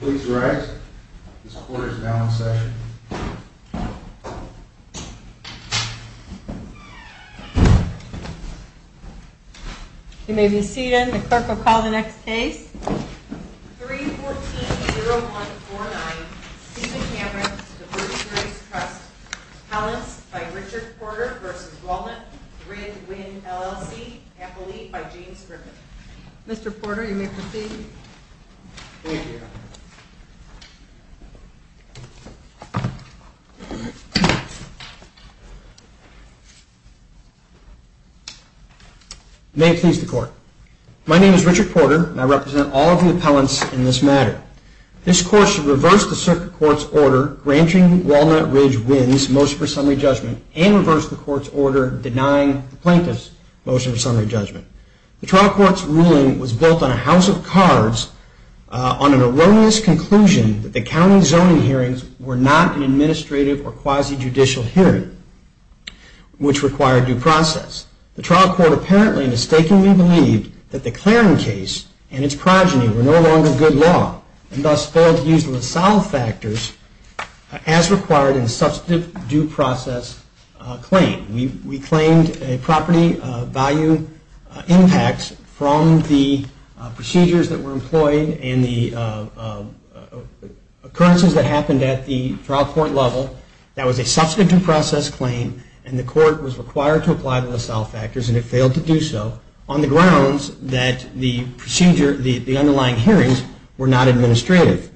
Please rise. Mr. Porter is now in session. You may be seated. The clerk will call the next case. 3-14-0149 Stephen Camerick v. Virgin Graves Trust Callous v. Richard Porter v. Walnut, RID-WIN LLC, Amelie v. James Griffin Mr. Porter, you may proceed. Thank you. May it please the Court. My name is Richard Porter, and I represent all of the appellants in this matter. This Court should reverse the Circuit Court's order granting Walnut, RID-WIN's motion for summary judgment and reverse the Court's order denying the plaintiff's motion for summary judgment. The trial court's ruling was built on a house of cards on an erroneous conclusion that the county zoning hearings were not an administrative or quasi-judicial hearing, which required due process. The trial court apparently mistakenly believed that the Claring case and its progeny were no longer good law, and thus failed to use the LaSalle factors as required in the substantive due process claim. We claimed a property value impact from the procedures that were employed and the occurrences that happened at the trial court level that was a substantive due process claim, and the Court was required to apply the LaSalle factors, and it failed to do so, on the grounds that the underlying hearings were not administrative.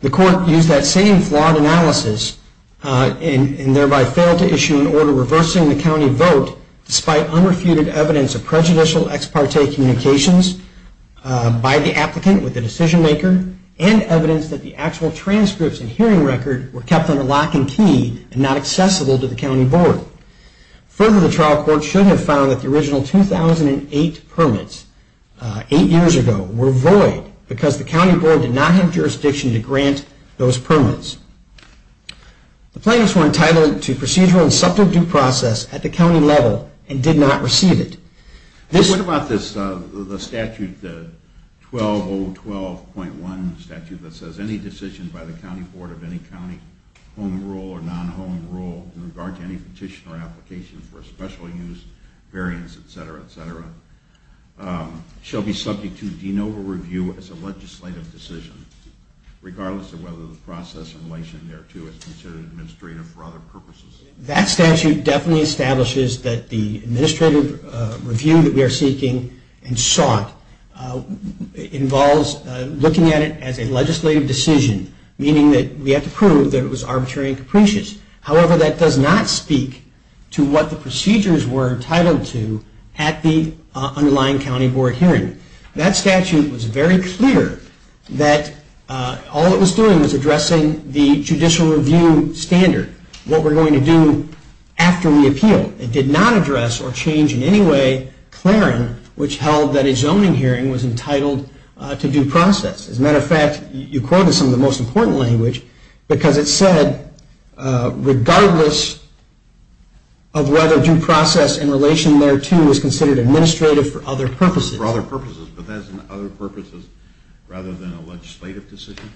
The Court used that same flawed analysis, and thereby failed to issue an order reversing the county vote, despite unrefuted evidence of prejudicial ex parte communications by the applicant with the decision maker, and evidence that the actual transcripts and hearing record were kept under lock and key and not accessible to the county board. Further, the trial court should have found that the original 2008 permits, eight years ago, were void, because the county board did not have jurisdiction to grant those permits. The plaintiffs were entitled to procedural and substantive due process at the county level, and did not receive it. What about the statute, 12012.1, that says any decision by the county board of any county home rule or non-home rule in regard to any petition or application for a special use, variance, etc., etc., shall be subject to de novo review as a legislative decision, regardless of whether the process in relation thereto is considered administrative for other purposes? That statute definitely establishes that the administrative review that we are seeking and sought involves looking at it as a legislative decision, meaning that we have to prove that it was arbitrary and capricious. However, that does not speak to what the procedures were entitled to at the underlying county board hearing. That statute was very clear that all it was doing was addressing the judicial review standard. What we're going to do after we appeal. It did not address or change in any way Clarin, which held that a zoning hearing was entitled to due process. As a matter of fact, you quoted some of the most important language, because it said, regardless of whether due process in relation thereto is considered administrative for other purposes. For other purposes, but that is other purposes rather than a legislative decision?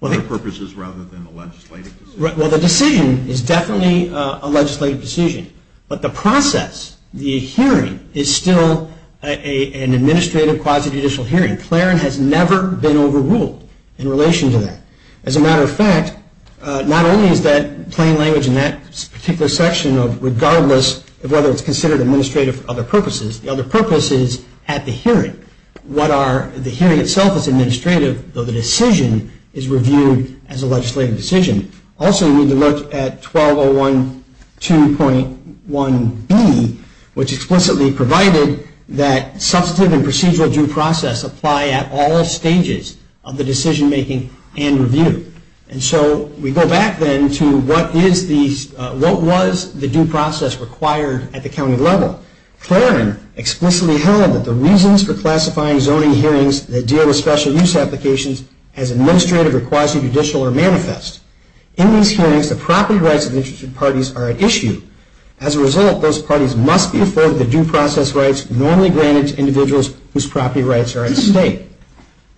Other purposes rather than a legislative decision? Well, the decision is definitely a legislative decision, but the process, the hearing, is still an administrative quasi-judicial hearing. Clarin has never been overruled in relation to that. As a matter of fact, not only is that plain language in that particular section of regardless of whether it's considered administrative for other purposes, the other purpose is at the hearing. The hearing itself is administrative, though the decision is reviewed as a legislative decision. Also, you need to look at 1201.2.1b, which explicitly provided that substantive and procedural due process apply at all stages of the decision making and review. We go back then to what was the due process required at the county level? Clarin explicitly held that the reasons for classifying zoning hearings that deal with special use applications as administrative or quasi-judicial are manifest. In these hearings, the property rights of the interested parties are at issue. As a result, those parties must be afforded the due process rights normally granted to individuals whose property rights are at stake.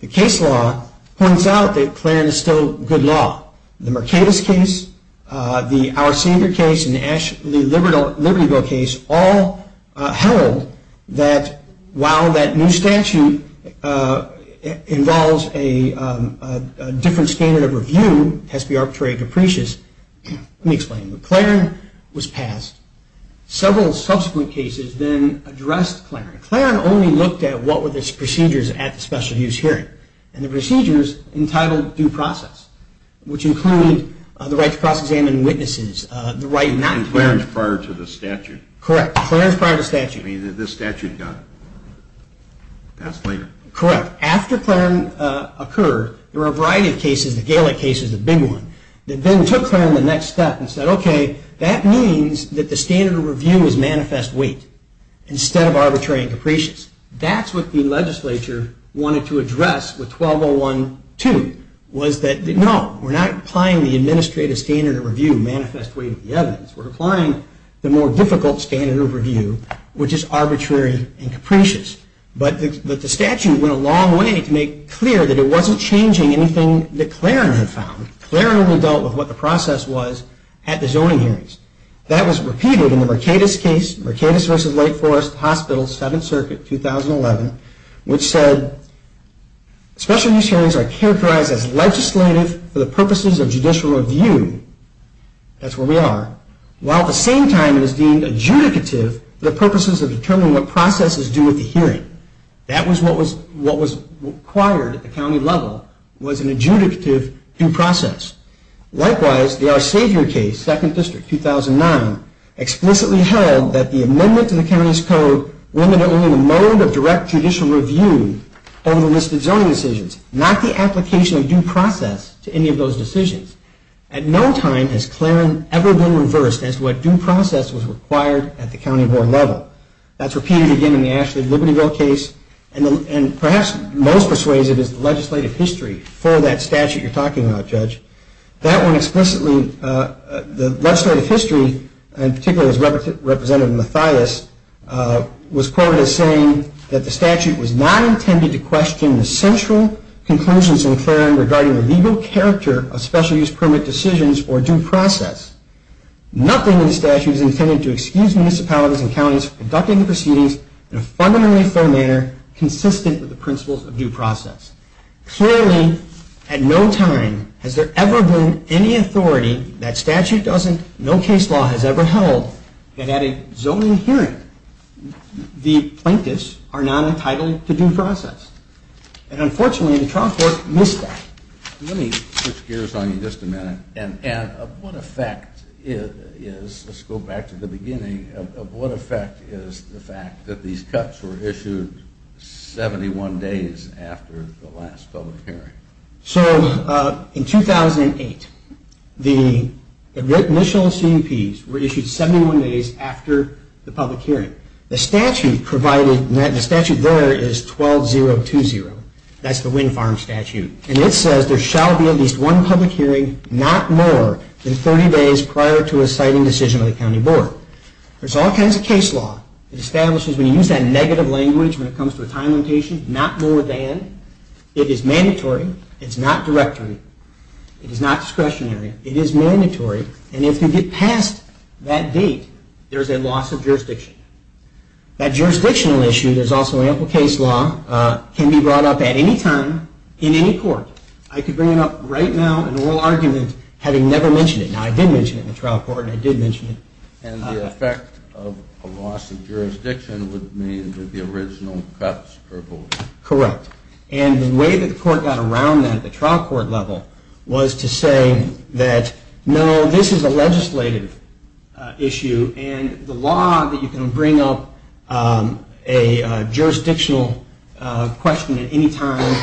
The case law points out that Clarin is still good law. The Mercatus case, the Our Savior case, and the Libertyville case all held that while that new statute involves a different standard of review, it has to be arbitrary and capricious. Let me explain. Clarin was passed. Several subsequent cases then addressed Clarin. Clarin only looked at what were the procedures at the special use hearing. The procedures entitled due process, which included the right to cross-examine witnesses. And Clarin is prior to the statute. Correct. Clarin is prior to the statute. This statute got passed later. Correct. After Clarin occurred, there were a variety of cases. The Galec case is a big one. They then took Clarin to the next step and said, okay, that means that the standard of review is manifest weight instead of arbitrary and capricious. That's what the legislature wanted to address with 1201.2. No, we're not applying the administrative standard of review manifest weight of the evidence. We're applying the more difficult standard of review, which is arbitrary and capricious. But the statute went a long way to make clear that it wasn't changing anything that Clarin had found. Clarin only dealt with what the process was at the zoning hearings. That was repeated in the Mercatus case, Mercatus v. Lake Forest Hospital, 7th Circuit, 2011, which said special use hearings are characterized as legislative for the purposes of judicial review. That's where we are. While at the same time it is deemed adjudicative for the purposes of determining what process is due at the hearing. That was what was required at the county level, was an adjudicative due process. Likewise, the Our Savior case, 2nd District, 2009, explicitly held that the amendment to the county's code limited only the mode of direct judicial review over the listed zoning decisions, not the application of due process to any of those decisions. At no time has Clarin ever been reversed as to what due process was required at the county board level. That's repeated again in the Ashley Libertyville case, and perhaps most persuasive is the legislative history for that statute you're talking about, Judge. That one explicitly, the legislative history, and particularly Representative Mathias, was quoted as saying that the statute was not intended to question the central conclusions in Clarin regarding the legal character of special use permit decisions or due process. Nothing in the statute is intended to excuse municipalities and counties for conducting the proceedings in a fundamentally fair manner, consistent with the principles of due process. Clearly, at no time has there ever been any authority, that statute doesn't, no case law has ever held, that at a zoning hearing the plaintiffs are not entitled to due process. And unfortunately, the trial court missed that. Let me switch gears on you just a minute, and of what effect is, let's go back to the beginning, of what effect is the fact that these cuts were issued 71 days after the last public hearing? So, in 2008, the initial CEPs were issued 71 days after the public hearing. The statute provided, the statute there is 12020, that's the Wind Farm statute, and it says there shall be at least one public hearing, not more, than 30 days prior to a siting decision of the county board. There's all kinds of case law that establishes, when you use that negative language, when it comes to a time limitation, not more than. It is mandatory, it's not directory, it is not discretionary, it is mandatory, and if you get past that date, there's a loss of jurisdiction. That jurisdictional issue, there's also ample case law, can be brought up at any time, in any court. I could bring up, right now, an oral argument, having never mentioned it. Now, I did mention it in the trial court, and I did mention it. And the effect of a loss of jurisdiction would mean that the original cuts are both. Correct. And the way that the court got around that, at the trial court level, was to say that, no, this is a legislative issue, and the law that you can bring up a jurisdictional question at any time,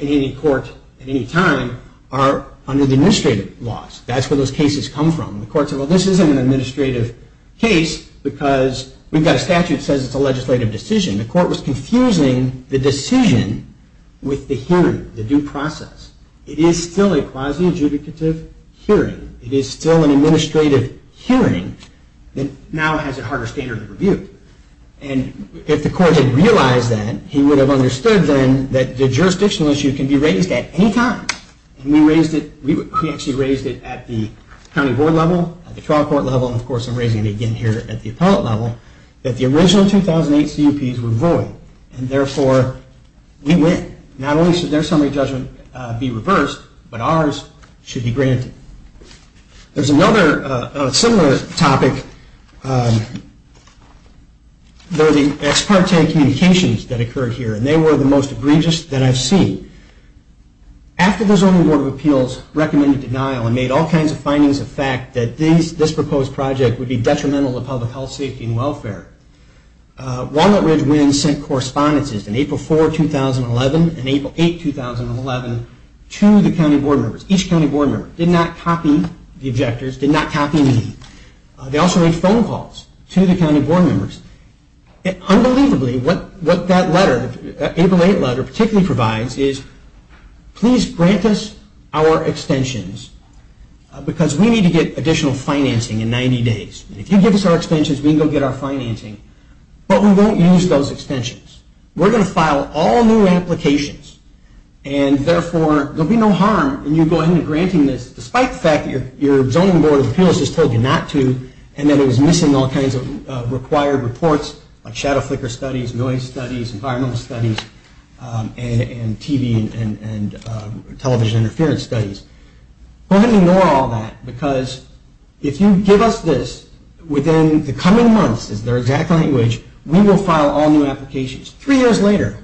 in any court, at any time, are under the administrative laws. That's where those cases come from. The court said, well, this isn't an administrative case, because we've got a statute that says it's a legislative decision. The court was confusing the decision with the hearing, the due process. It is still a quasi-adjudicative hearing. It is still an administrative hearing that now has a harder standard of review. And if the court had realized that, he would have understood, then, that the jurisdictional issue can be raised at any time. And we actually raised it at the county board level, at the trial court level, and, of course, I'm raising it again here at the appellate level, that the original 2008 CUPs were void, and, therefore, we win. Not only should their summary judgment be reversed, but ours should be granted. There's another similar topic. There are the ex parte communications that occurred here, and they were the most egregious that I've seen. After the Zoning Board of Appeals recommended denial and made all kinds of findings of fact that this proposed project would be detrimental to public health, safety, and welfare, Walnut Ridge WINS sent correspondences in April 4, 2011, and April 8, 2011, to the county board members. Each county board member did not copy the objectors, did not copy me. They also made phone calls to the county board members. And, unbelievably, what that letter, that April 8 letter, particularly provides is, please grant us our extensions, because we need to get additional financing in 90 days. If you give us our extensions, we can go get our financing, but we won't use those extensions. We're going to file all new applications. And, therefore, there will be no harm in you going and granting this, despite the fact that your Zoning Board of Appeals just told you not to, and that it was missing all kinds of required reports, like shadow flicker studies, noise studies, environmental studies, and TV and television interference studies. Go ahead and ignore all that, because if you give us this, within the coming months, is their exact language, we will file all new applications. Three years later,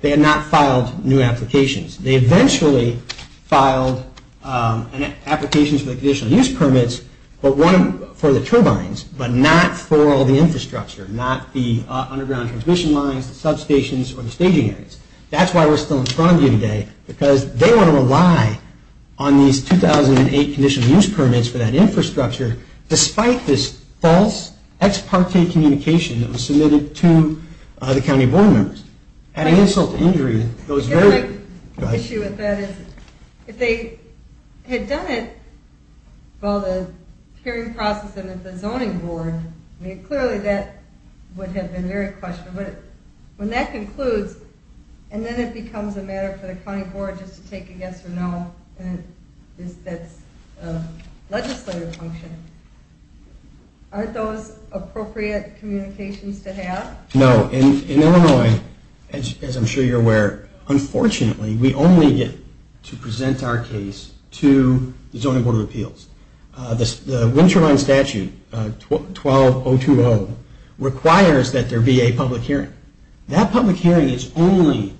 they had not filed new applications. They eventually filed applications for the conditional use permits for the turbines, but not for all the infrastructure, not the underground transmission lines, the substations, or the staging areas. That's why we're still in front of you today, because they want to rely on these 2008 conditional use permits for that infrastructure, despite this false ex parte communication that was submitted to the county board members. Having insult to injury goes very... The issue with that is, if they had done it, well, the hearing process in the Zoning Board, clearly that would have been very questionable, but when that concludes, and then it becomes a matter for the county board just to take a yes or no, and that's a legislative function, aren't those appropriate communications to have? No. In Illinois, as I'm sure you're aware, unfortunately, we only get to present our case to the Zoning Board of Appeals. The wind turbine statute, 12020, requires that there be a public hearing. That public hearing is only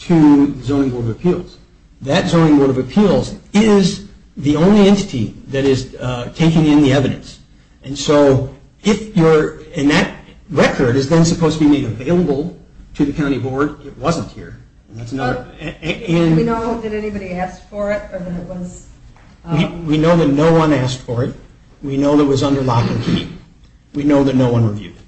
to the Zoning Board of Appeals. That Zoning Board of Appeals is the only entity that is taking in the evidence. And so, if you're... And that record is then supposed to be made available to the county board. It wasn't here, and that's another... We know that anybody asked for it, or that it was... We know that no one asked for it. We know that it was under lock and key. We know that no one reviewed it.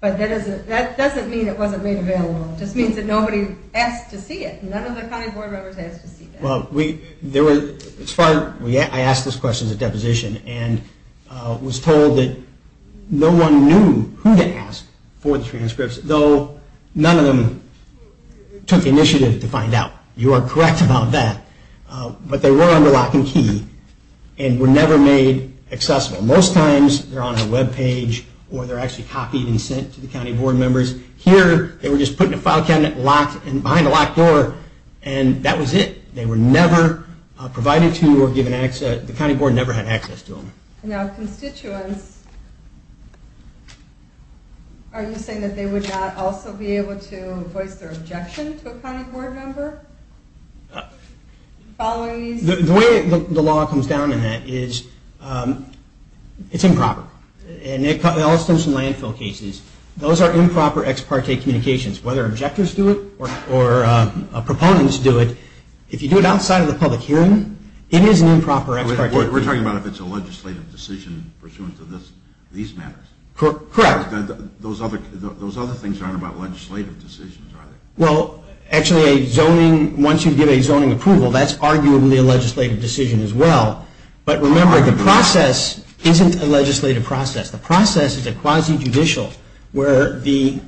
But that doesn't mean it wasn't made available. It just means that nobody asked to see it. None of the county board members asked to see that. Well, we... As far as... I asked this question at deposition, and was told that no one knew who to ask for the transcripts, though none of them took initiative to find out. You are correct about that. But they were under lock and key, and were never made accessible. Most times, they're on a web page, or they're actually copied and sent to the county board members. Here, they were just put in a file cabinet behind a locked door, and that was it. They were never provided to or given access... The county board never had access to them. Now, constituents... Are you saying that they would not also be able to voice their objection to a county board member? The way the law comes down in that is, it's improper. In all sorts of landfill cases, those are improper ex parte communications. Whether objectors do it or proponents do it, if you do it outside of the public hearing, it is an improper ex parte communication. We're talking about if it's a legislative decision pursuant to these matters. Correct. Those other things aren't about legislative decisions, are they? Actually, once you give a zoning approval, that's arguably a legislative decision as well. But remember, the process isn't a legislative process. The process is a quasi-judicial, where the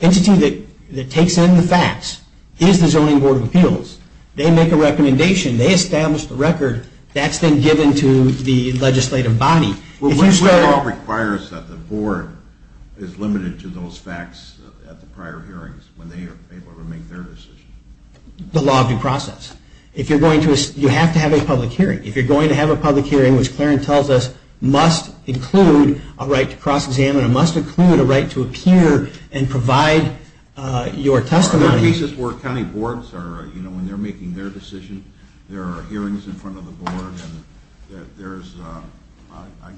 entity that takes in the facts is the Zoning Board of Appeals. They make a recommendation. They establish the record. That's then given to the legislative body. The law requires that the board is limited to those facts at the prior hearings when they are able to make their decision. The law of due process. You have to have a public hearing. If you're going to have a public hearing, which Clarence tells us must include a right to cross-examine, it must include a right to appear and provide your testimony. There are cases where county boards, when they're making their decision, there are hearings in front of the board. There's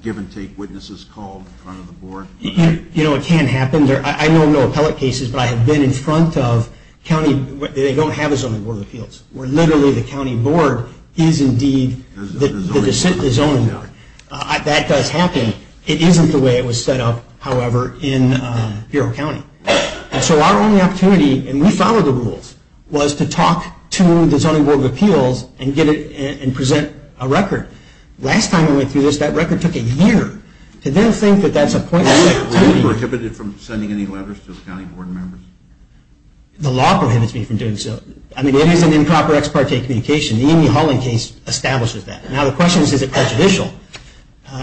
give-and-take witnesses called in front of the board. You know, it can happen. I know of no appellate cases, but I have been in front of county. They don't have a Zoning Board of Appeals, where literally the county board is indeed the zoning board. That does happen. It isn't the way it was set up, however, in Bureau County. So our only opportunity, and we followed the rules, was to talk to the Zoning Board of Appeals and present a record. Last time I went through this, that record took a year. To then think that that's a point in time meeting. Were you prohibited from sending any letters to the county board members? The law prohibits me from doing so. I mean, it is an improper ex parte communication. The Amy Holland case establishes that. Now the question is, is it prejudicial?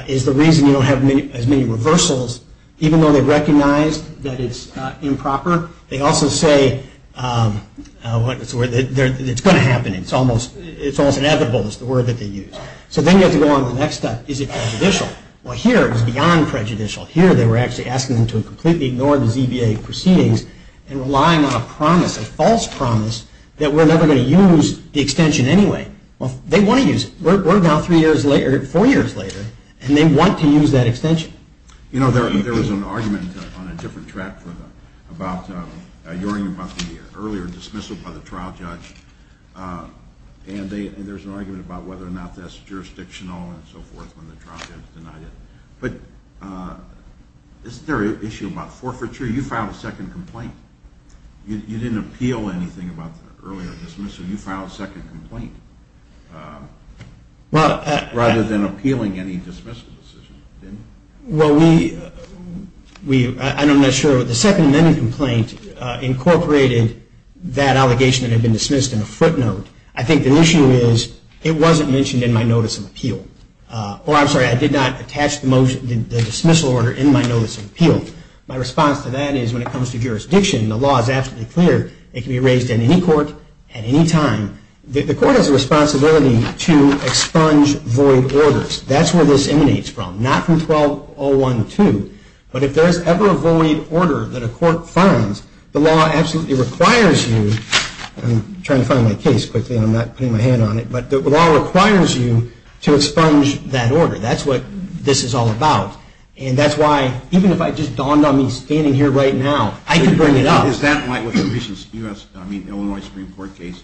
It's the reason you don't have as many reversals. Even though they recognize that it's improper, they also say it's going to happen. It's almost inevitable is the word that they use. So then you have to go on to the next step. Is it prejudicial? Well, here it was beyond prejudicial. Here they were actually asking them to completely ignore the ZBA proceedings and relying on a promise, a false promise, that we're never going to use the extension anyway. Well, they want to use it. We're now four years later, and they want to use that extension. You know, there was an argument on a different track about the earlier dismissal by the trial judge, and there was an argument about whether or not that's jurisdictional and so forth when the trial judge denied it. But isn't there an issue about forfeiture? You filed a second complaint. You didn't appeal anything about the earlier dismissal. You filed a second complaint rather than appealing any dismissal decision, didn't you? Well, I'm not sure. The Second Amendment complaint incorporated that allegation that had been dismissed in a footnote. I think the issue is it wasn't mentioned in my notice of appeal. Or I'm sorry, I did not attach the dismissal order in my notice of appeal. My response to that is when it comes to jurisdiction, the law is absolutely clear. It can be raised in any court at any time. The court has a responsibility to expunge void orders. That's where this emanates from, not from 1201-2. But if there is ever a void order that a court finds, the law absolutely requires you. I'm trying to find my case quickly, and I'm not putting my hand on it. But the law requires you to expunge that order. That's what this is all about. And that's why even if I just dawned on me standing here right now, I could bring it up. Is that why with the recent Illinois Supreme Court case,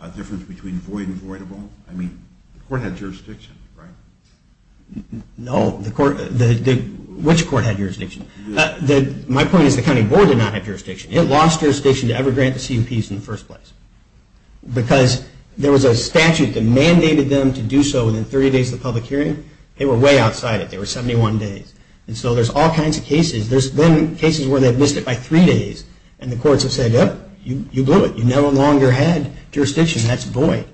a difference between void and voidable? I mean, the court had jurisdiction, right? No. Which court had jurisdiction? My point is the county board did not have jurisdiction. It lost jurisdiction to ever grant the CUPs in the first place. Because there was a statute that mandated them to do so within 30 days of the public hearing. They were way outside it. They were 71 days. And so there's all kinds of cases. There's been cases where they've missed it by three days, and the courts have said, oh, you blew it. You no longer had jurisdiction. That's void.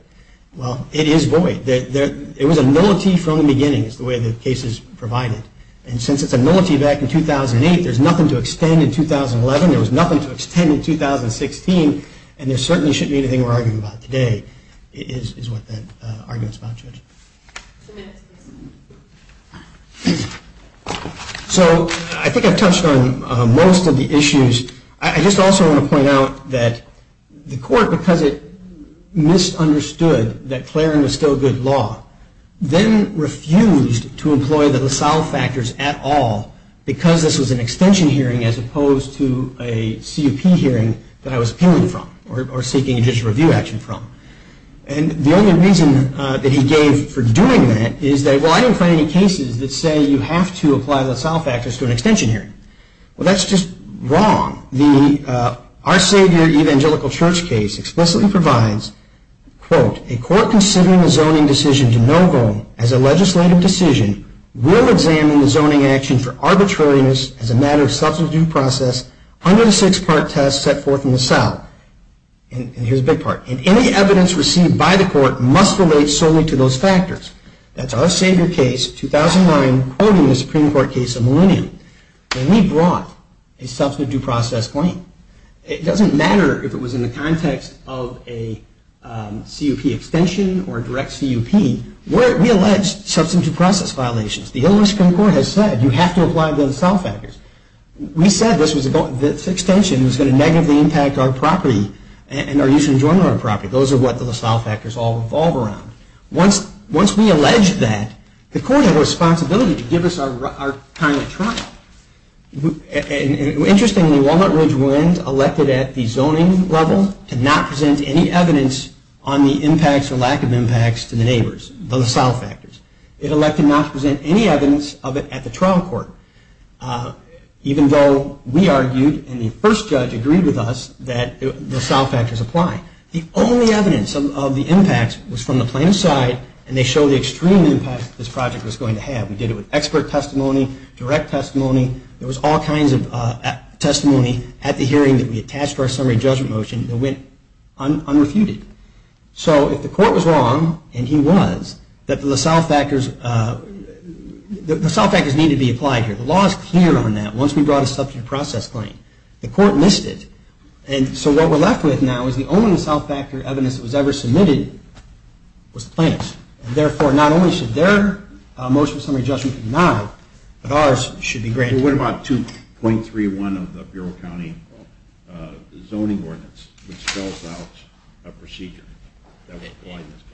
Well, it is void. It was a nullity from the beginning, is the way the case is provided. And since it's a nullity back in 2008, there's nothing to extend in 2011. There was nothing to extend in 2016. And there certainly shouldn't be anything we're arguing about today, is what that argument's about, Judge. Two minutes, please. So I think I've touched on most of the issues. I just also want to point out that the court, because it misunderstood that Clarin was still good law, then refused to employ the LaSalle factors at all because this was an extension hearing as opposed to a CUP hearing that I was appealing from or seeking judicial review action from. And the only reason that he gave for doing that is that, well, I didn't find any cases that say you have to apply LaSalle factors to an extension hearing. Well, that's just wrong. Our Savior Evangelical Church case explicitly provides, quote, a court considering a zoning decision to no vote as a legislative decision will examine the zoning action for arbitrariness as a matter of substitute process under the six-part test set forth in LaSalle. And here's the big part. And any evidence received by the court must relate solely to those factors. That's our Savior case, 2009, quoting the Supreme Court case of Millennium. And we brought a substitute process claim. It doesn't matter if it was in the context of a CUP extension or a direct CUP. We allege substitute process violations. The Illinois Supreme Court has said you have to apply the LaSalle factors. We said this extension was going to negatively impact our property and our use and enjoyment of our property. Those are what the LaSalle factors all revolve around. Once we allege that, the court has a responsibility to give us our time at trial. Interestingly, Walnut Ridge Wind elected at the zoning level to not present any evidence on the impacts or lack of impacts to the neighbors, the LaSalle factors. It elected not to present any evidence of it at the trial court, even though we argued and the first judge agreed with us that the LaSalle factors apply. The only evidence of the impacts was from the plaintiff's side, and they showed the extreme impact this project was going to have. We did it with expert testimony, direct testimony. There was all kinds of testimony at the hearing that we attached to our summary judgment motion that went unrefuted. So if the court was wrong, and he was, that the LaSalle factors need to be applied here. The law is clear on that. Once we brought a substitute process claim, the court missed it. So what we're left with now is the only LaSalle factor evidence that was ever submitted was the plaintiff's. Therefore, not only should their motion of summary judgment be denied, but ours should be granted. What about 2.31 of the Bureau of County Zoning Ordinance, which spells out a procedure?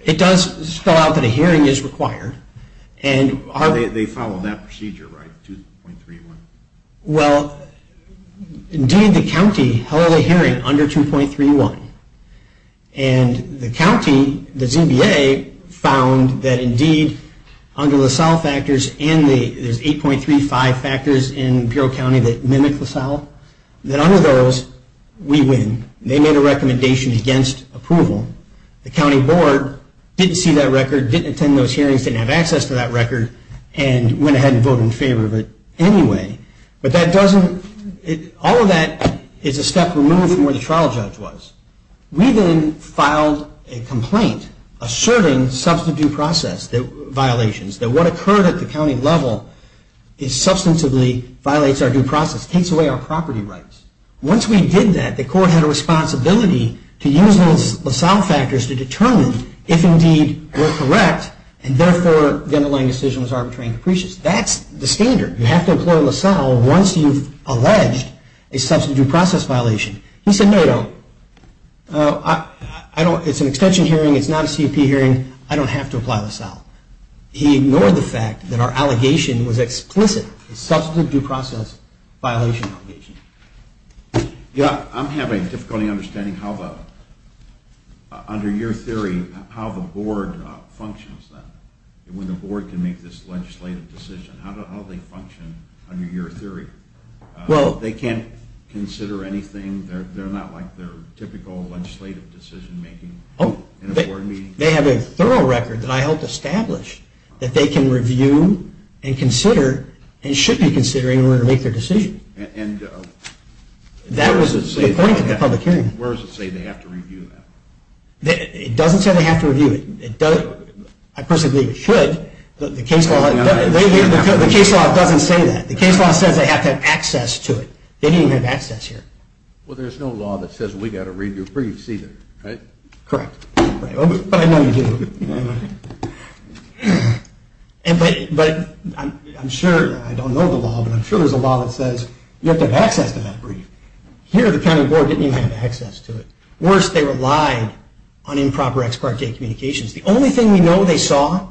It does spell out that a hearing is required. They follow that procedure, right, 2.31? Well, indeed the county held a hearing under 2.31, and the county, the ZBA, found that indeed under LaSalle factors, and there's 8.35 factors in the Bureau of County that mimic LaSalle, that under those, we win. They made a recommendation against approval. The county board didn't see that record, didn't attend those hearings, didn't have access to that record, and went ahead and voted in favor of it anyway. But that doesn't, all of that is a step removed from where the trial judge was. We then filed a complaint asserting substitute process violations, that what occurred at the county level is substantively, violates our due process, takes away our property rights. Once we did that, the court had a responsibility to use those LaSalle factors to determine if indeed we're correct, and therefore the underlying decision was arbitrary and capricious. That's the standard. You have to employ LaSalle once you've alleged a substitute due process violation. He said, no, no, it's an extension hearing, it's not a CEP hearing, I don't have to apply LaSalle. He ignored the fact that our allegation was explicit, a substitute due process violation allegation. Yeah, I'm having difficulty understanding how the, under your theory, how the board functions then. When the board can make this legislative decision, how do they function under your theory? They can't consider anything, they're not like their typical legislative decision making in a board meeting? They have a thorough record that I helped establish that they can review and consider and should be considering in order to make their decision. That was the point of the public hearing. Where does it say they have to review that? It doesn't say they have to review it. I personally believe it should. The case law doesn't say that. The case law says they have to have access to it. They don't even have access here. Well, there's no law that says we've got to review briefs either, right? Correct. But I know you do. But I'm sure, I don't know the law, but I'm sure there's a law that says you have to have access to that brief. Here, the county board didn't even have access to it. Worse, they relied on improper ex parte communications. The only thing we know they saw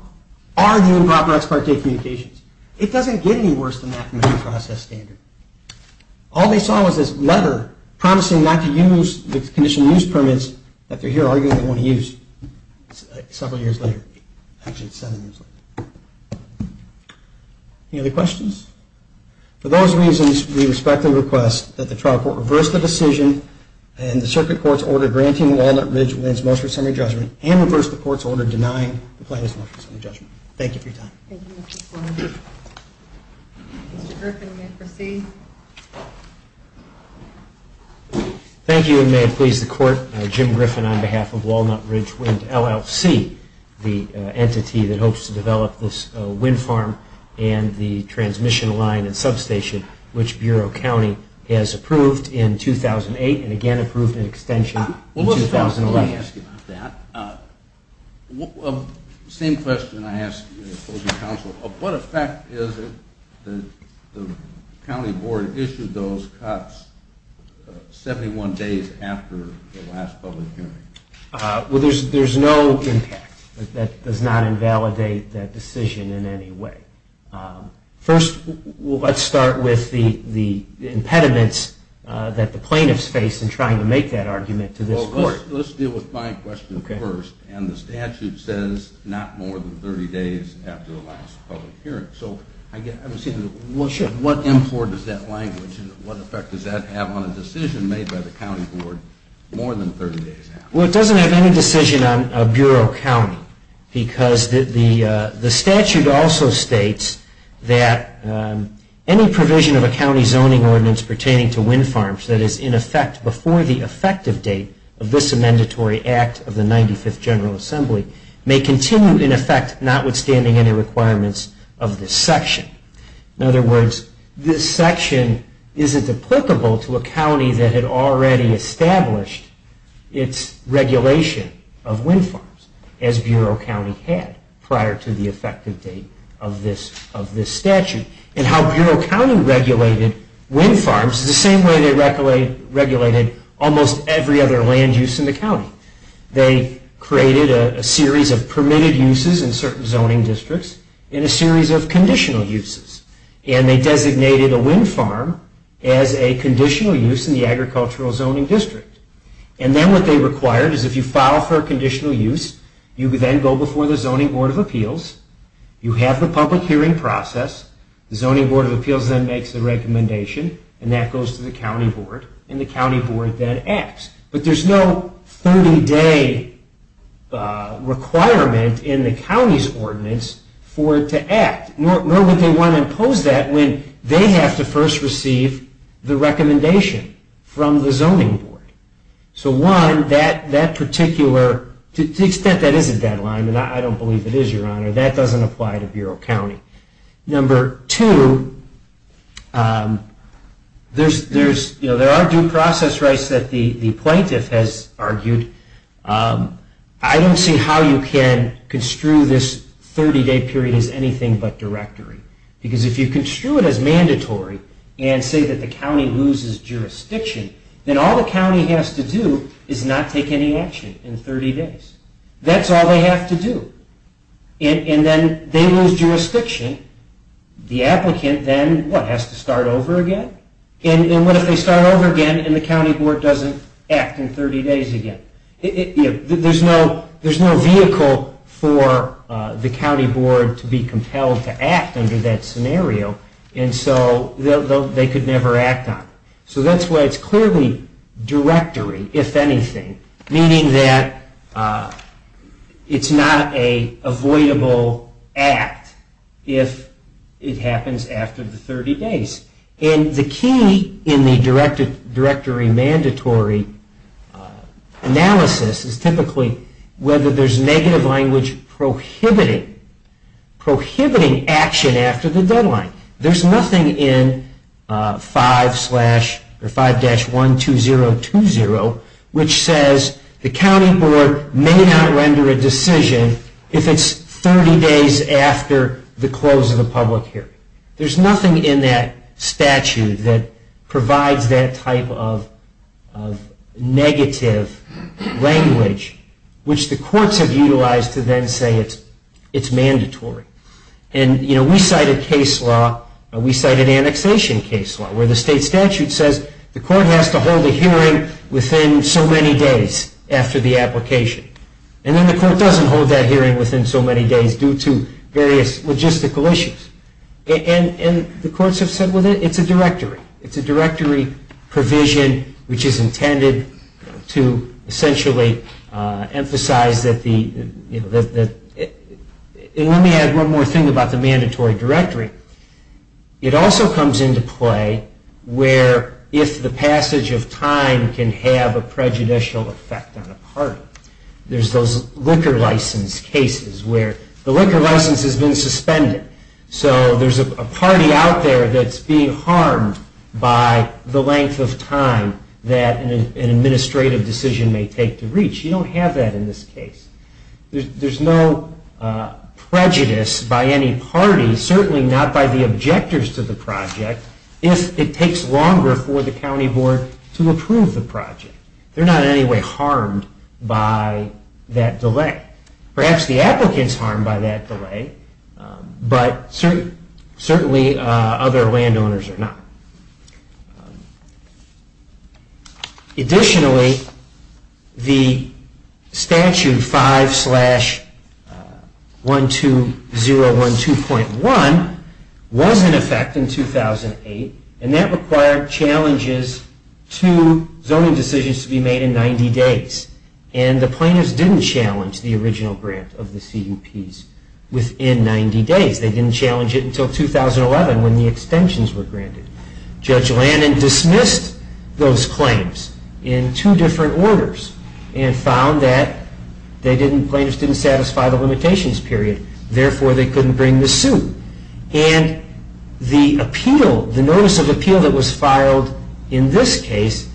are the improper ex parte communications. It doesn't get any worse than the affirmative process standard. All they saw was this letter promising not to use the condition of use permits that they're here arguing they won't use. Several years later. Actually, it's seven years later. Any other questions? For those reasons, we respectfully request that the trial court reverse the decision in the circuit court's order granting Walnut Ridge wins most of its summary judgment and reverse the court's order denying the plaintiff's most of its summary judgment. Thank you for your time. Thank you, Mr. Sloan. Thank you, and may it please the court, Jim Griffin on behalf of Walnut Ridge Wind LLC, the entity that hopes to develop this wind farm and the transmission line and substation, which Bureau County has approved in 2008 and again approved in extension in 2011. Let me ask you about that. Same question I ask you, opposing counsel. What effect is it that the county board issued those cuts 71 days after the last public hearing? Well, there's no impact. That does not invalidate that decision in any way. First, let's start with the impediments that the plaintiffs face in trying to make that argument to this court. Let's deal with my question first. And the statute says not more than 30 days after the last public hearing. So what import is that language? What effect does that have on a decision made by the county board more than 30 days after? Well, it doesn't have any decision on Bureau County, because the statute also states that any provision of a county zoning ordinance pertaining to wind farms that is in effect before the effective date of this Amendatory Act of the 95th General Assembly may continue in effect notwithstanding any requirements of this section. In other words, this section isn't applicable to a county that had already established its regulation of wind farms as Bureau County had prior to the effective date of this statute. And how Bureau County regulated wind farms is the same way they regulated almost every other land use in the county. They created a series of permitted uses in certain zoning districts and a series of conditional uses. And they designated a wind farm as a conditional use in the agricultural zoning district. And then what they required is if you file for a conditional use, you then go before the Zoning Board of Appeals. You have the public hearing process. The Zoning Board of Appeals then makes the recommendation. And that goes to the county board. And the county board then acts. But there's no 30-day requirement in the county's ordinance for it to act. Nor would they want to impose that when they have to first receive the recommendation from the zoning board. So one, that particular, to the extent that is a deadline, and I don't believe it is, Your Honor, that doesn't apply to Bureau County. Number two, there are due process rights that the plaintiff has argued. I don't see how you can construe this 30-day period as anything but directory. Because if you construe it as mandatory and say that the county loses jurisdiction, then all the county has to do is not take any action in 30 days. That's all they have to do. And then they lose jurisdiction. The applicant then, what, has to start over again? And what if they start over again and the county board doesn't act in 30 days again? There's no vehicle for the county board to be compelled to act under that scenario. And so they could never act on it. So that's why it's clearly directory, if anything. Meaning that it's not an avoidable act if it happens after the 30 days. And the key in the directory mandatory analysis is typically whether there's negative language prohibiting action after the deadline. There's nothing in 5-12020 which says the county board may not render a decision if it's 30 days after the close of the public hearing. There's nothing in that statute that provides that type of negative language, which the courts have utilized to then say it's mandatory. And, you know, we cited case law, we cited annexation case law, where the state statute says the court has to hold a hearing within so many days after the application. And then the court doesn't hold that hearing within so many days due to various logistical issues. And the courts have said, well, it's a directory. It's a directory provision which is intended to essentially emphasize that the – and let me add one more thing about the mandatory directory. It also comes into play where if the passage of time can have a prejudicial effect on a party. There's those liquor license cases where the liquor license has been suspended. So there's a party out there that's being harmed by the length of time that an administrative decision may take to reach. You don't have that in this case. There's no prejudice by any party, certainly not by the objectors to the project, if it takes longer for the county board to approve the project. They're not in any way harmed by that delay. Perhaps the applicant's harmed by that delay, but certainly other landowners are not. Additionally, the statute 5-12012.1 was in effect in 2008, and that required challenges to zoning decisions to be made in 90 days. And the plaintiffs didn't challenge the original grant of the CUPs within 90 days. They didn't challenge it until 2011 when the extensions were granted. Judge Lannon dismissed those claims in two different orders and found that the plaintiffs didn't satisfy the limitations period, therefore they couldn't bring the suit. And the notice of appeal that was filed in this case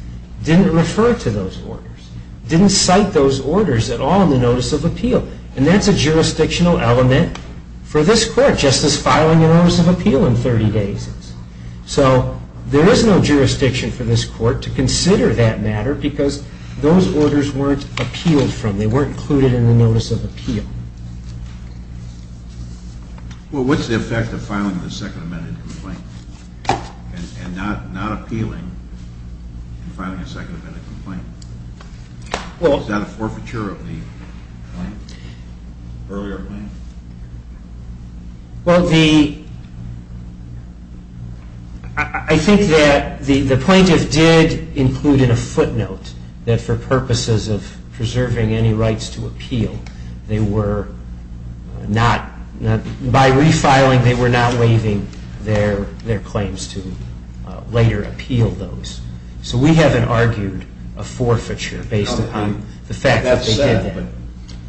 didn't refer to those orders, didn't cite those orders at all in the notice of appeal. And that's a jurisdictional element for this court, just as filing a notice of appeal in 30 days is. So there is no jurisdiction for this court to consider that matter because those orders weren't appealed from. They weren't included in the notice of appeal. Well, what's the effect of filing a second amended complaint and not appealing and filing a second amended complaint? Is that a forfeiture of the earlier claim? Well, I think that the plaintiff did include in a footnote that for purposes of preserving any rights to appeal, by refiling they were not waiving their claims to later appeal those. So we haven't argued a forfeiture based upon the fact that they did that. Okay,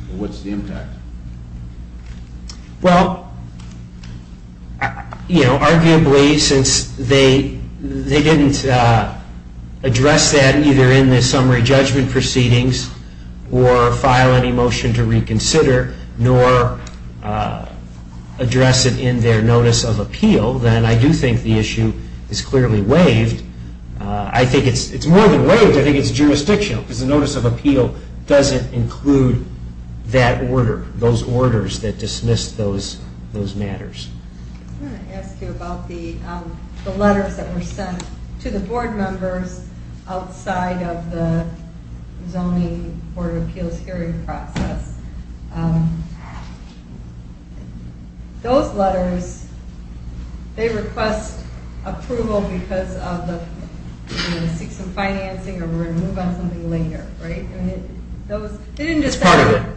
but what's the impact? Well, arguably since they didn't address that either in the summary judgment proceedings or file any motion to reconsider nor address it in their notice of appeal, then I do think the issue is clearly waived. I think it's more than waived, I think it's jurisdictional because the notice of appeal doesn't include that order, those orders that dismiss those matters. I want to ask you about the letters that were sent to the board members outside of the zoning board of appeals hearing process. Those letters, they request approval because of the six and financing or we're going to move on to something later, right? They didn't just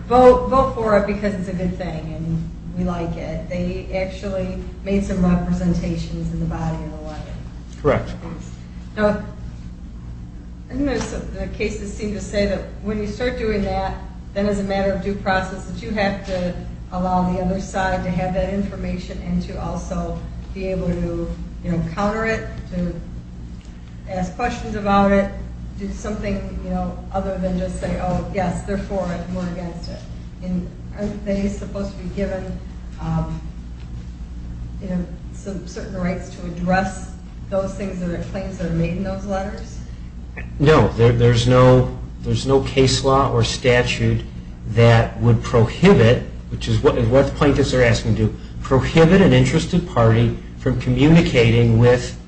vote for it because it's a good thing and we like it. They actually made some representations in the body of the letter. Correct. The cases seem to say that when you start doing that, then as a matter of due process that you have to allow the other side to have that information and to also be able to counter it, to ask questions about it, do something other than just say, oh, yes, they're for it, we're against it. Aren't they supposed to be given certain rights to address those things and the claims that are made in those letters? No, there's no case law or statute that would prohibit, which is what the plaintiffs are asking to do, prohibit an interested party from communicating with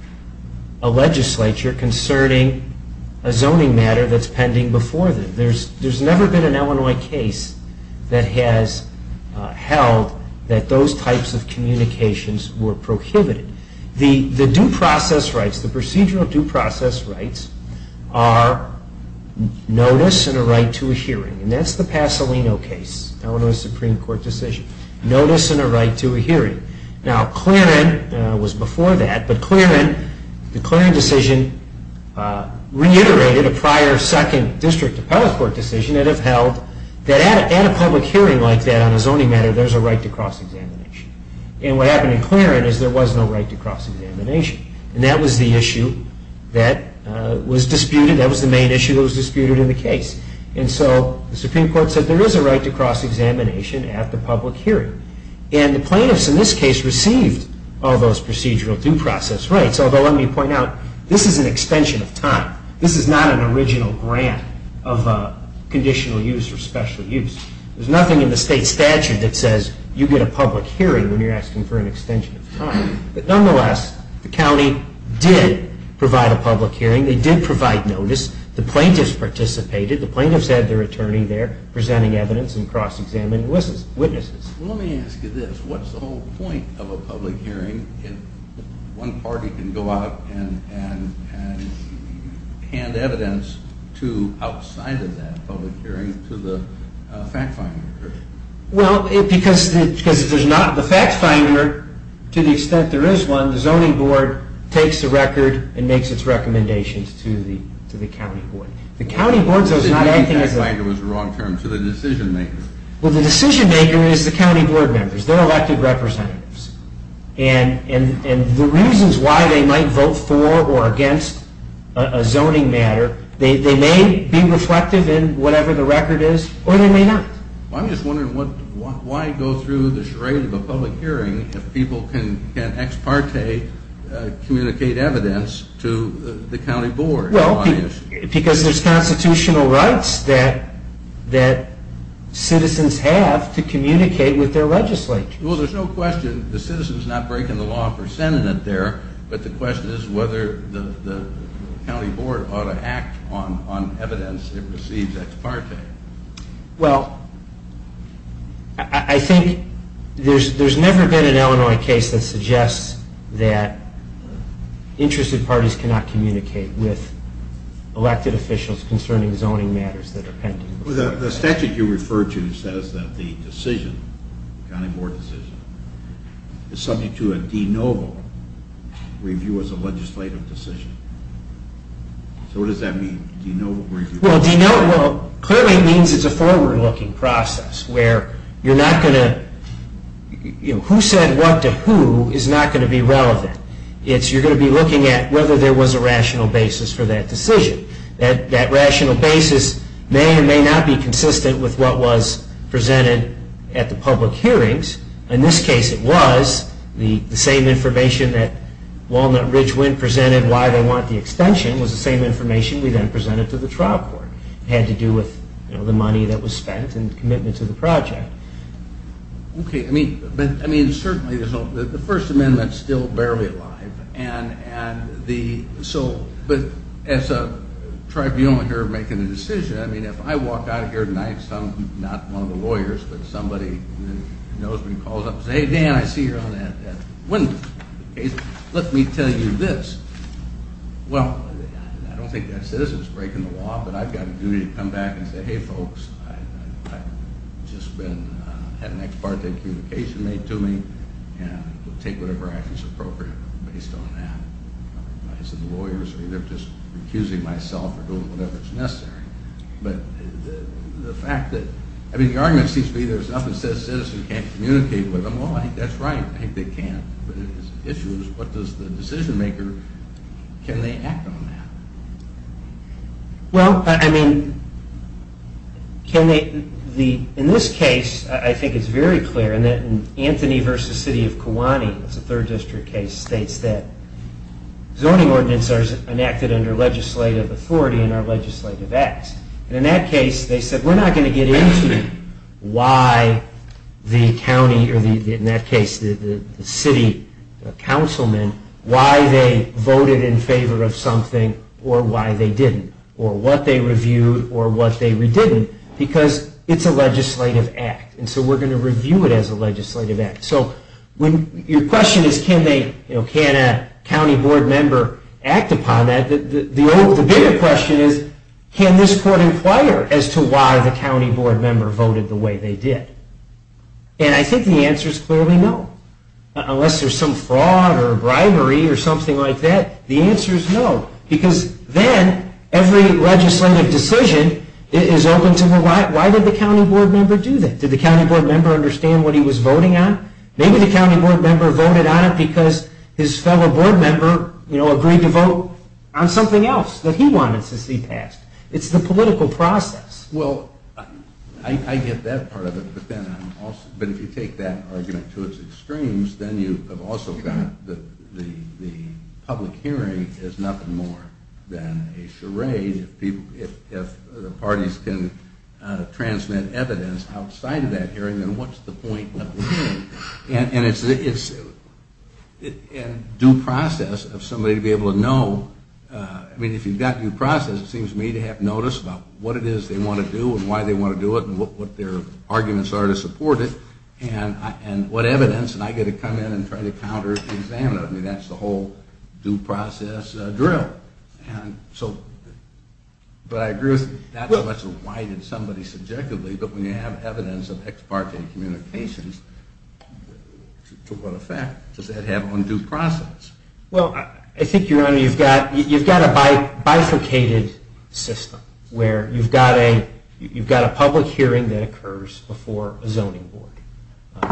a legislature concerning a zoning matter that's pending before them. There's never been an Illinois case that has held that those types of communications were prohibited. The due process rights, the procedural due process rights, are notice and a right to a hearing. And that's the Pasolino case, Illinois Supreme Court decision. Notice and a right to a hearing. Now, Clearan was before that, but Clearan, the Clearan decision, reiterated a prior second district appellate court decision that had held that at a public hearing like that on a zoning matter, there's a right to cross-examination. And what happened in Clearan is there was no right to cross-examination. And that was the issue that was disputed, that was the main issue that was disputed in the case. And so the Supreme Court said there is a right to cross-examination at the public hearing. And the plaintiffs in this case received all those procedural due process rights, although let me point out, this is an extension of time. This is not an original grant of conditional use or special use. There's nothing in the state statute that says you get a public hearing when you're asking for an extension of time. But nonetheless, the county did provide a public hearing. They did provide notice. The plaintiffs participated. The plaintiffs had their attorney there presenting evidence and cross-examining witnesses. Well, let me ask you this. What's the whole point of a public hearing if one party can go out and hand evidence outside of that public hearing to the fact finder? Well, because if there's not the fact finder, to the extent there is one, the zoning board takes the record and makes its recommendations to the county board. The county board does not have anything as a... Well, the decision maker is the county board members. They're elected representatives. And the reasons why they might vote for or against a zoning matter, they may be reflective in whatever the record is, or they may not. Well, I'm just wondering why go through the charade of a public hearing if people can ex parte communicate evidence to the county board. Well, because there's constitutional rights that citizens have to communicate with their legislators. Well, there's no question. The citizen's not breaking the law for sending it there, but the question is whether the county board ought to act on evidence it receives ex parte. Well, I think there's never been an Illinois case that suggests that interested parties cannot communicate with elected officials concerning zoning matters that are pending. The statute you refer to says that the decision, the county board decision, is subject to a de novo review as a legislative decision. So what does that mean, de novo review? Well, de novo clearly means it's a forward-looking process where you're not going to... Who said what to who is not going to be relevant. You're going to be looking at whether there was a rational basis for that decision. That rational basis may or may not be consistent with what was presented at the public hearings. In this case, it was. The same information that Walnut Ridge Wind presented, why they want the extension, was the same information we then presented to the trial court. It had to do with the money that was spent and commitment to the project. Okay. I mean, certainly, the First Amendment is still barely alive. But as a tribunal here making a decision, I mean, if I walk out of here tonight, not one of the lawyers, but somebody who knows me, calls up and says, Hey, Dan, I see you're on that Wind case. Let me tell you this. Well, I don't think that citizen is breaking the law, but I've got a duty to come back and say, Hey, folks, I've just had an ex parte communication made to me and I'll take whatever action is appropriate based on that. I said the lawyers are either just recusing myself or doing whatever is necessary. But the fact that, I mean, the argument seems to be there's nothing says citizen can't communicate with them. Well, that's right. I think they can. But the issue is what does the decision maker, can they act on that? Well, I mean, in this case, I think it's very clear that in Anthony v. City of Kiwani, it's a third district case, states that zoning ordinance are enacted under legislative authority and are legislative acts. And in that case, they said we're not going to get into why the county, or in that case, the city councilman, why they voted in favor of something or why they didn't, or what they reviewed or what they redidn't, because it's a legislative act. And so we're going to review it as a legislative act. So your question is can a county board member act upon that? The bigger question is can this court inquire as to why the county board member voted the way they did? And I think the answer is clearly no, unless there's some fraud or bribery or something like that. The answer is no, because then every legislative decision is open to why did the county board member do that? Did the county board member understand what he was voting on? Maybe the county board member voted on it because his fellow board member, you know, agreed to vote on something else that he wanted to see passed. It's the political process. Well, I get that part of it. But if you take that argument to its extremes, then you have also got the public hearing is nothing more than a charade. If the parties can transmit evidence outside of that hearing, then what's the point of the hearing? And due process of somebody to be able to know, I mean, if you've got due process, it seems to me to have notice about what it is they want to do and why they want to do it and what their arguments are to support it. And what evidence, and I get to come in and try to counter the examiner. I mean, that's the whole due process drill. And so, but I agree with you. Not so much why did somebody subjectively, but when you have evidence of ex parte communications, to what effect does that have on due process? Well, I think, Your Honor, you've got a bifurcated system where you've got a public hearing that occurs before a zoning board.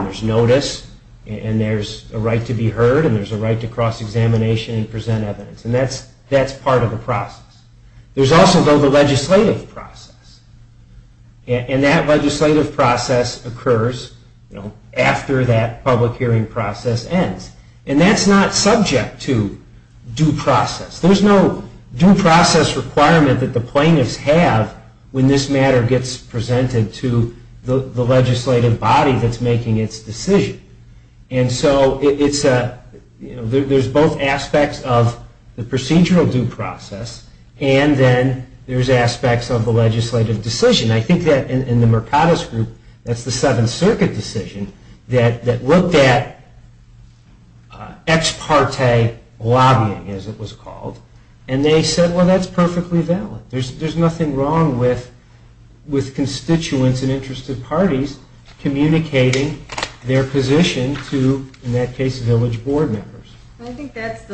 There's notice, and there's a right to be heard, and there's a right to cross-examination and present evidence. And that's part of the process. There's also, though, the legislative process. And that legislative process occurs after that public hearing process ends. And that's not subject to due process. There's no due process requirement that the plaintiffs have when this matter gets presented to the legislative body that's making its decision. And so, there's both aspects of the procedural due process, and then there's aspects of the legislative decision. I think that in the Mercatus Group, that's the Seventh Circuit decision, that looked at ex parte lobbying, as it was called. And they said, well, that's perfectly valid. There's nothing wrong with constituents and interested parties communicating their position to, in that case, village board members. I think that's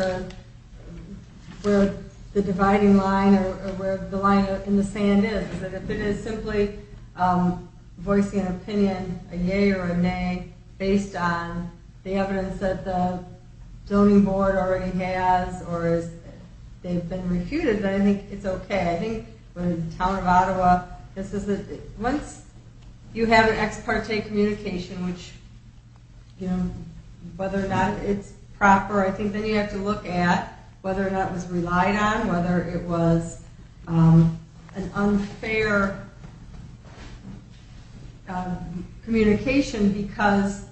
where the dividing line, or where the line in the sand is. If it is simply voicing an opinion, a yea or a nay, based on the evidence that the voting board already has, or they've been refuted, then I think it's okay. I think in the town of Ottawa, once you have an ex parte communication, whether or not it's proper, I think then you have to look at whether or not it was relied on, whether it was an unfair communication, because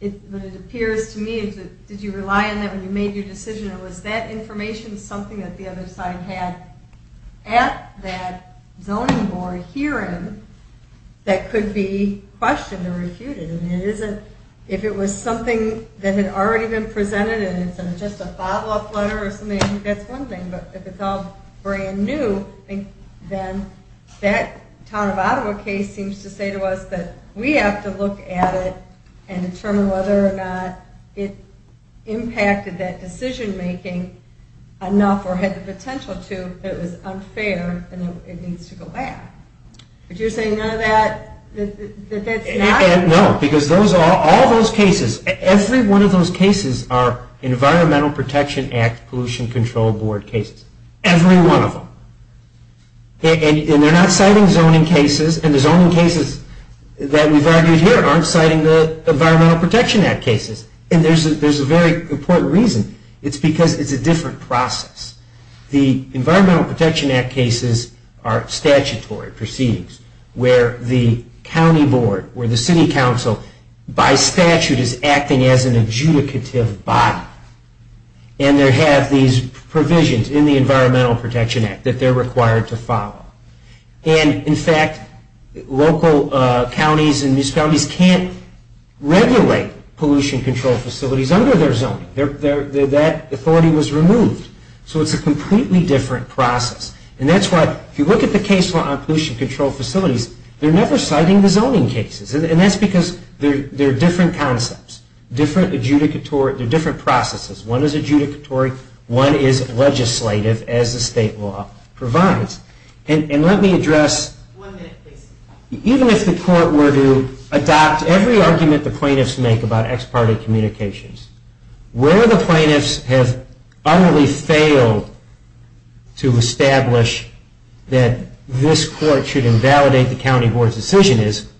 it appears to me, did you rely on that when you made your decision, or was that information something that the other side had at that zoning board hearing that could be questioned or refuted? If it was something that had already been presented and it's just a follow-up letter or something, I think that's one thing. But if it's all brand new, then that town of Ottawa case seems to say to us that we have to look at it and determine whether or not it impacted that decision-making enough or had the potential to that it was unfair and it needs to go back. But you're saying none of that, that that's not? No, because all those cases, every one of those cases are Environmental Protection Act Pollution Control Board cases. Every one of them. And they're not citing zoning cases, and the zoning cases that we've argued here aren't citing the Environmental Protection Act cases. And there's a very important reason. It's because it's a different process. The Environmental Protection Act cases are statutory proceedings where the county board or the city council, by statute, is acting as an adjudicative body. And they have these provisions in the Environmental Protection Act that they're required to follow. And, in fact, local counties and municipalities can't regulate pollution control facilities under their zoning. That authority was removed. So it's a completely different process. And that's why, if you look at the case law on pollution control facilities, they're never citing the zoning cases. And that's because they're different concepts, different processes. One is adjudicatory, one is legislative, as the state law provides. And let me address, even if the court were to adopt every argument the plaintiffs make about ex parte communications, where the plaintiffs have utterly failed to establish that this court should invalidate the county board's decision is,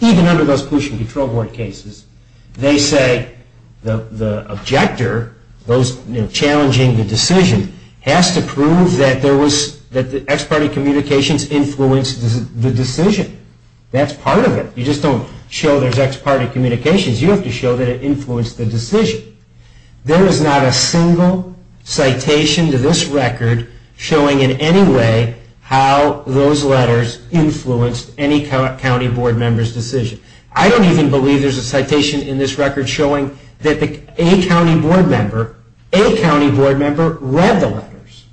even under those pollution control board cases, they say the objector, those challenging the decision, has to prove that the ex parte communications influenced the decision. That's part of it. You just don't show there's ex parte communications. You have to show that it influenced the decision. There is not a single citation to this record showing in any way how those letters influenced any county board member's decision. I don't even believe there's a citation in this record showing that a county board member read the letters.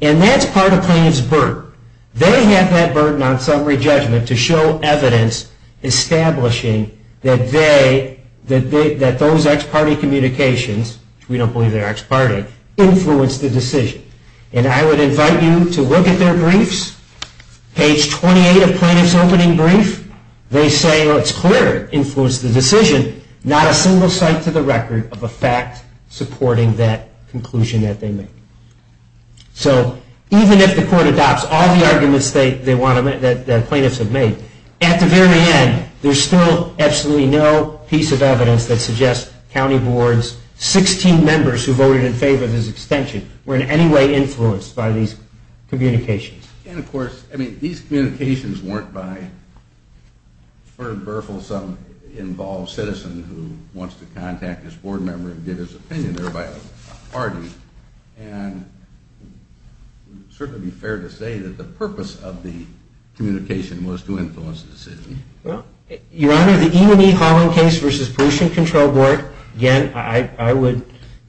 And that's part of plaintiff's burden. They have that burden on summary judgment to show evidence establishing that those ex parte communications, which we don't believe they're ex parte, influenced the decision. And I would invite you to look at their briefs. Page 28 of Plaintiff's Opening Brief, they say it's clear it influenced the decision. Not a single cite to the record of a fact supporting that conclusion that they made. So even if the court adopts all the arguments that plaintiffs have made, county boards, 16 members who voted in favor of this extension, were in any way influenced by these communications. And, of course, these communications weren't by Bernard Berfel, some involved citizen who wants to contact his board member and get his opinion. They're by a party. And it would certainly be fair to say that the purpose of the communication was to influence the decision. Your Honor, the E&E Holland case versus Pollution Control Board, again, I would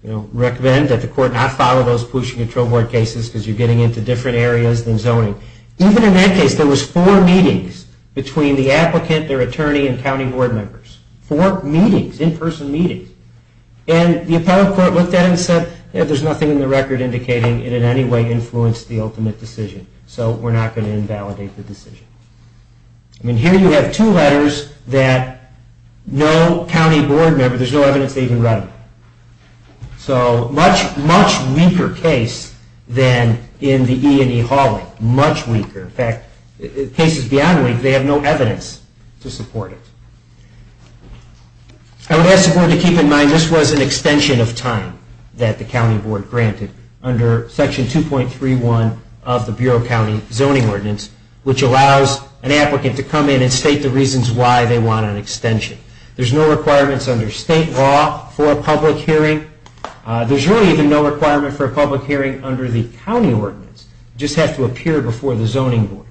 recommend that the court not follow those Pollution Control Board cases because you're getting into different areas than zoning. Even in that case, there was four meetings between the applicant, their attorney, and county board members. Four meetings, in-person meetings. And the appellate court looked at it and said, there's nothing in the record indicating it in any way influenced the ultimate decision. So we're not going to invalidate the decision. And here you have two letters that no county board member, there's no evidence they even read them. So much, much weaker case than in the E&E Holland. Much weaker. In fact, cases beyond weak, they have no evidence to support it. I would ask the board to keep in mind this was an extension of time that the county board granted under Section 2.31 of the Bureau County Zoning Ordinance, which allows an applicant to come in and state the reasons why they want an extension. There's no requirements under state law for a public hearing. There's really even no requirement for a public hearing under the county ordinance. It just has to appear before the zoning board.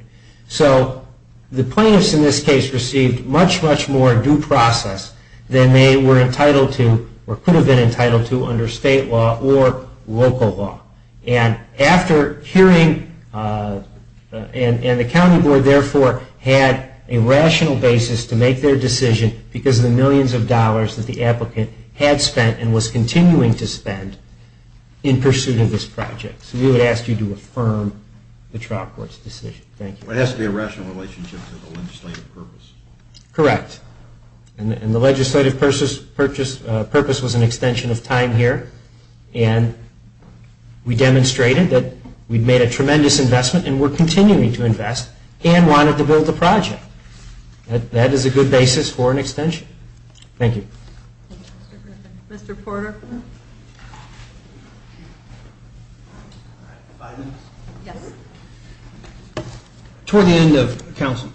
So the plaintiffs in this case received much, much more due process than they were entitled to or could have been entitled to under state law or local law. And after hearing, and the county board therefore had a rational basis to make their decision because of the millions of dollars that the applicant had spent and was continuing to spend in pursuit of this project. So we would ask you to affirm the trial court's decision. Thank you. It has to be a rational relationship to the legislative purpose. Correct. And the legislative purpose was an extension of time here. And we demonstrated that we've made a tremendous investment and we're continuing to invest and wanted to build the project. That is a good basis for an extension. Thank you. Thank you, Mr. Griffin. Mr. Porter. Five minutes? Yes. Toward the end of counsel's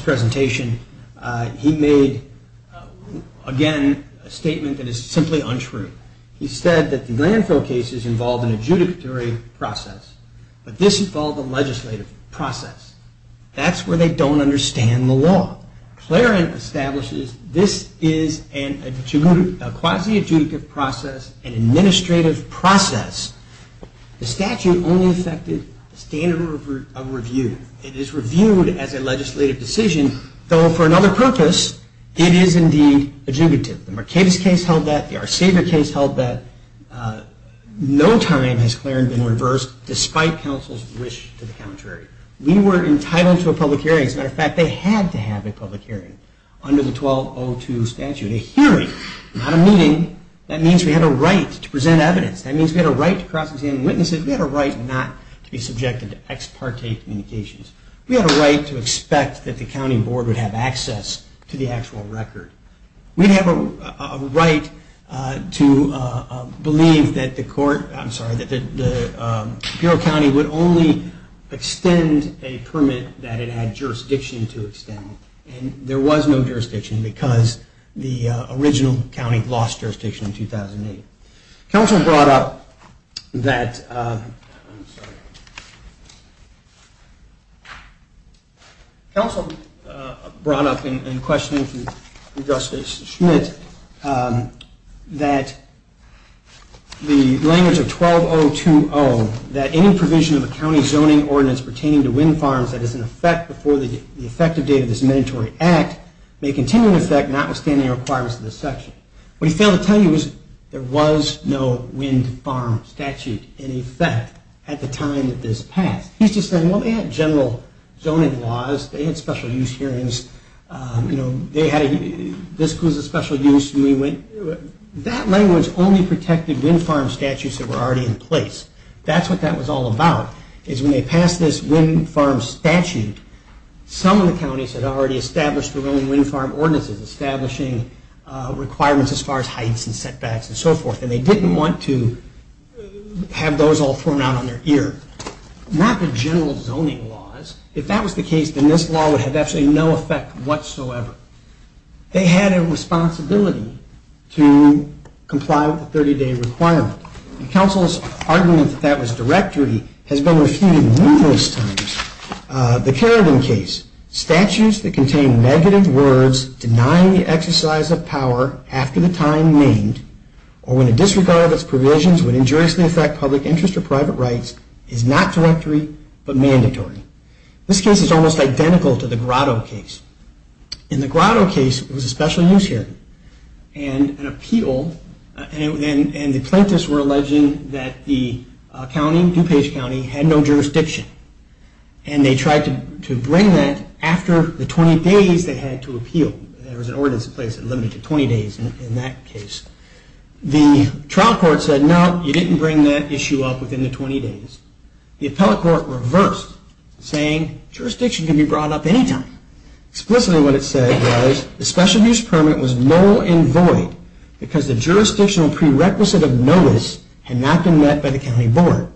presentation, he made, again, a statement that is simply untrue. He said that the landfill cases involved an adjudicatory process, but this involved a legislative process. That's where they don't understand the law. Clarence establishes this is a quasi-adjudicative process, an administrative process. The statute only affected the standard of review. It is reviewed as a legislative decision, though for another purpose it is indeed adjudicative. The Mercatus case held that. The Arcevia case held that. No time has Clarence been reversed, despite counsel's wish to the contrary. We were entitled to a public hearing. As a matter of fact, they had to have a public hearing under the 1202 statute. A hearing, not a meeting. That means we had a right to present evidence. That means we had a right to cross-examine witnesses. We had a right not to be subjected to ex parte communications. We had a right to expect that the county board would have access to the actual record. We have a right to believe that the court, I'm sorry, that the Bureau of County would only extend a permit that it had jurisdiction to extend. And there was no jurisdiction because the original county lost jurisdiction in 2008. Counsel brought up that, counsel brought up in questioning from Justice Schmidt that the language of 12020, that any provision of a county zoning ordinance pertaining to wind farms that is in effect before the effective date of this mandatory act may continue in effect, notwithstanding the requirements of this section. What he failed to tell you was there was no wind farm statute in effect at the time that this passed. He's just saying, well, they had general zoning laws, they had special use hearings, this was a special use, and we went. That language only protected wind farm statutes that were already in place. That's what that was all about, is when they passed this wind farm statute, some of the counties had already established their own wind farm ordinances, establishing requirements as far as heights and setbacks and so forth, and they didn't want to have those all thrown out on their ear. Not the general zoning laws. If that was the case, then this law would have absolutely no effect whatsoever. They had a responsibility to comply with the 30-day requirement. Counsel's argument that that was directory has been refuted numerous times. The Carradine case, statutes that contain negative words denying the exercise of power after the time named, or when a disregard of its provisions would injuriously affect public interest or private rights, is not directory, but mandatory. This case is almost identical to the Grotto case. In the Grotto case, it was a special use hearing, and an appeal, and the plaintiffs were alleging that the county, DuPage County, had no jurisdiction. And they tried to bring that after the 20 days they had to appeal. There was an ordinance in place that limited to 20 days in that case. The trial court said, no, you didn't bring that issue up within the 20 days. The appellate court reversed, saying jurisdiction can be brought up anytime. Explicitly what it said was, the special use permit was null and void because the jurisdictional prerequisite of notice had not been met by the county board.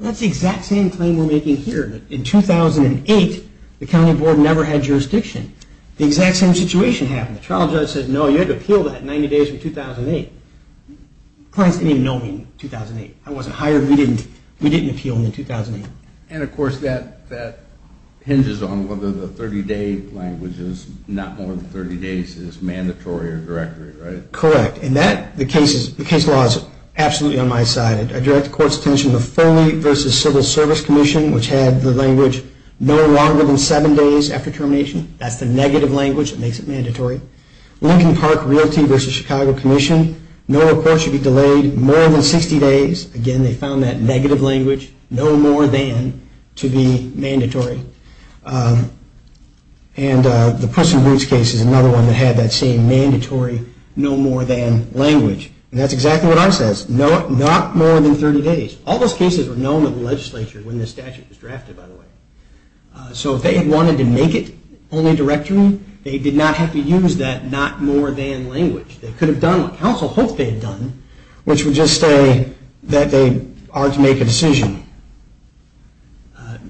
That's the exact same claim we're making here. In 2008, the county board never had jurisdiction. The exact same situation happened. The trial judge said, no, you had to appeal that 90 days from 2008. The clients didn't even know me in 2008. I wasn't hired. We didn't appeal in 2008. And of course, that hinges on whether the 30-day language is not more than 30 days, is mandatory or directory, right? Correct. And the case law is absolutely on my side. I direct the court's attention to Foley v. Civil Service Commission, which had the language, no longer than seven days after termination. That's the negative language that makes it mandatory. Lincoln Park Realty v. Chicago Commission, no report should be delayed more than 60 days. Again, they found that negative language, no more than, to be mandatory. And the Puss in Boots case is another one that had that same mandatory no more than language. And that's exactly what ours says. Not more than 30 days. All those cases were known to the legislature when the statute was drafted, by the way. So if they had wanted to make it only directory, they did not have to use that not more than language. They could have done what counsel hoped they had done, which would just say that they are to make a decision.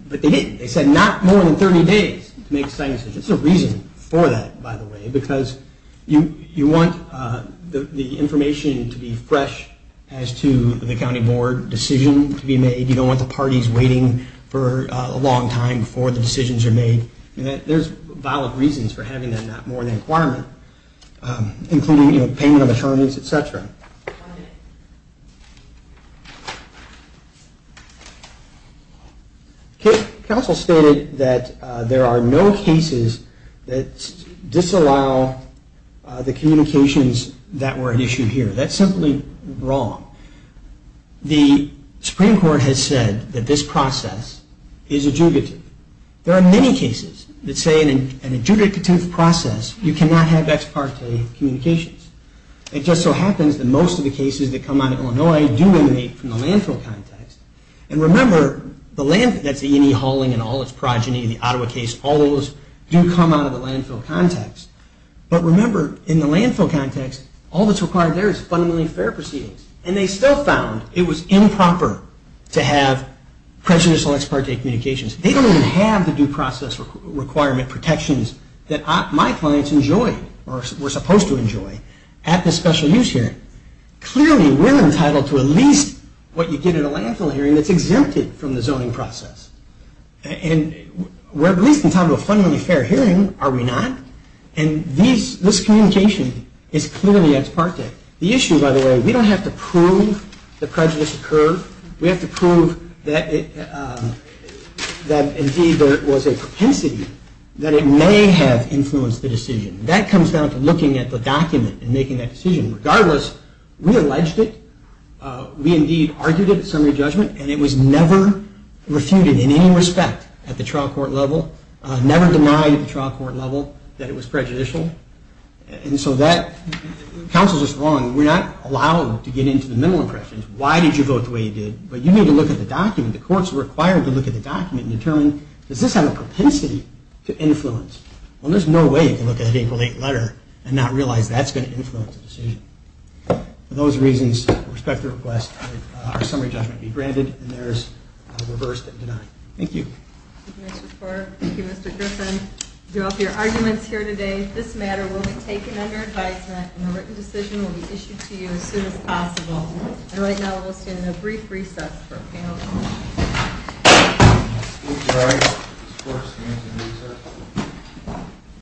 But they didn't. They said not more than 30 days to make a decision. There's a reason for that, by the way, because you want the information to be fresh as to the county board decision to be made. You don't want the parties waiting for a long time before the decisions are made. There's valid reasons for having that not more than requirement, including payment of attorneys, et cetera. Counsel stated that there are no cases that disallow the communications that were at issue here. That's simply wrong. The Supreme Court has said that this process is adjudicative. There are many cases that say in an adjudicative process you cannot have ex parte communications. It just so happens that most of the cases that come out of Illinois do emanate from the landfill context. And remember, the landfill, that's E&E hauling and all its progeny, the Ottawa case, all of those do come out of the landfill context. But remember, in the landfill context, all that's required there is fundamentally fair proceedings. And they still found it was improper to have prejudicial ex parte communications. They don't even have the due process requirement protections that my clients enjoy or were supposed to enjoy at the special use hearing. Clearly, we're entitled to at least what you get at a landfill hearing that's exempted from the zoning process. And we're at least entitled to a fundamentally fair hearing, are we not? And this communication is clearly ex parte. The issue, by the way, we don't have to prove the prejudice occurred. We have to prove that indeed there was a propensity that it may have influenced the decision. That comes down to looking at the document and making that decision. Regardless, we alleged it. We indeed argued it at summary judgment. And it was never refuted in any respect at the trial court level, never denied at the trial court level that it was prejudicial. And so that, counsel's just wrong. We're not allowed to get into the mental impressions. Why did you vote the way you did? But you need to look at the document. The court's required to look at the document and determine, does this have a propensity to influence? Well, there's no way you can look at an April 8th letter and not realize that's going to influence the decision. For those reasons, with respect to the request, our summary judgment will be granted, and theirs reversed and denied. Thank you. Thank you, Mr. Fork. Thank you, Mr. Griffin. You drew up your arguments here today. This matter will be taken under advisement, and a written decision will be issued to you as soon as possible. And right now, we'll stand in a brief recess for a panel discussion. Thank you.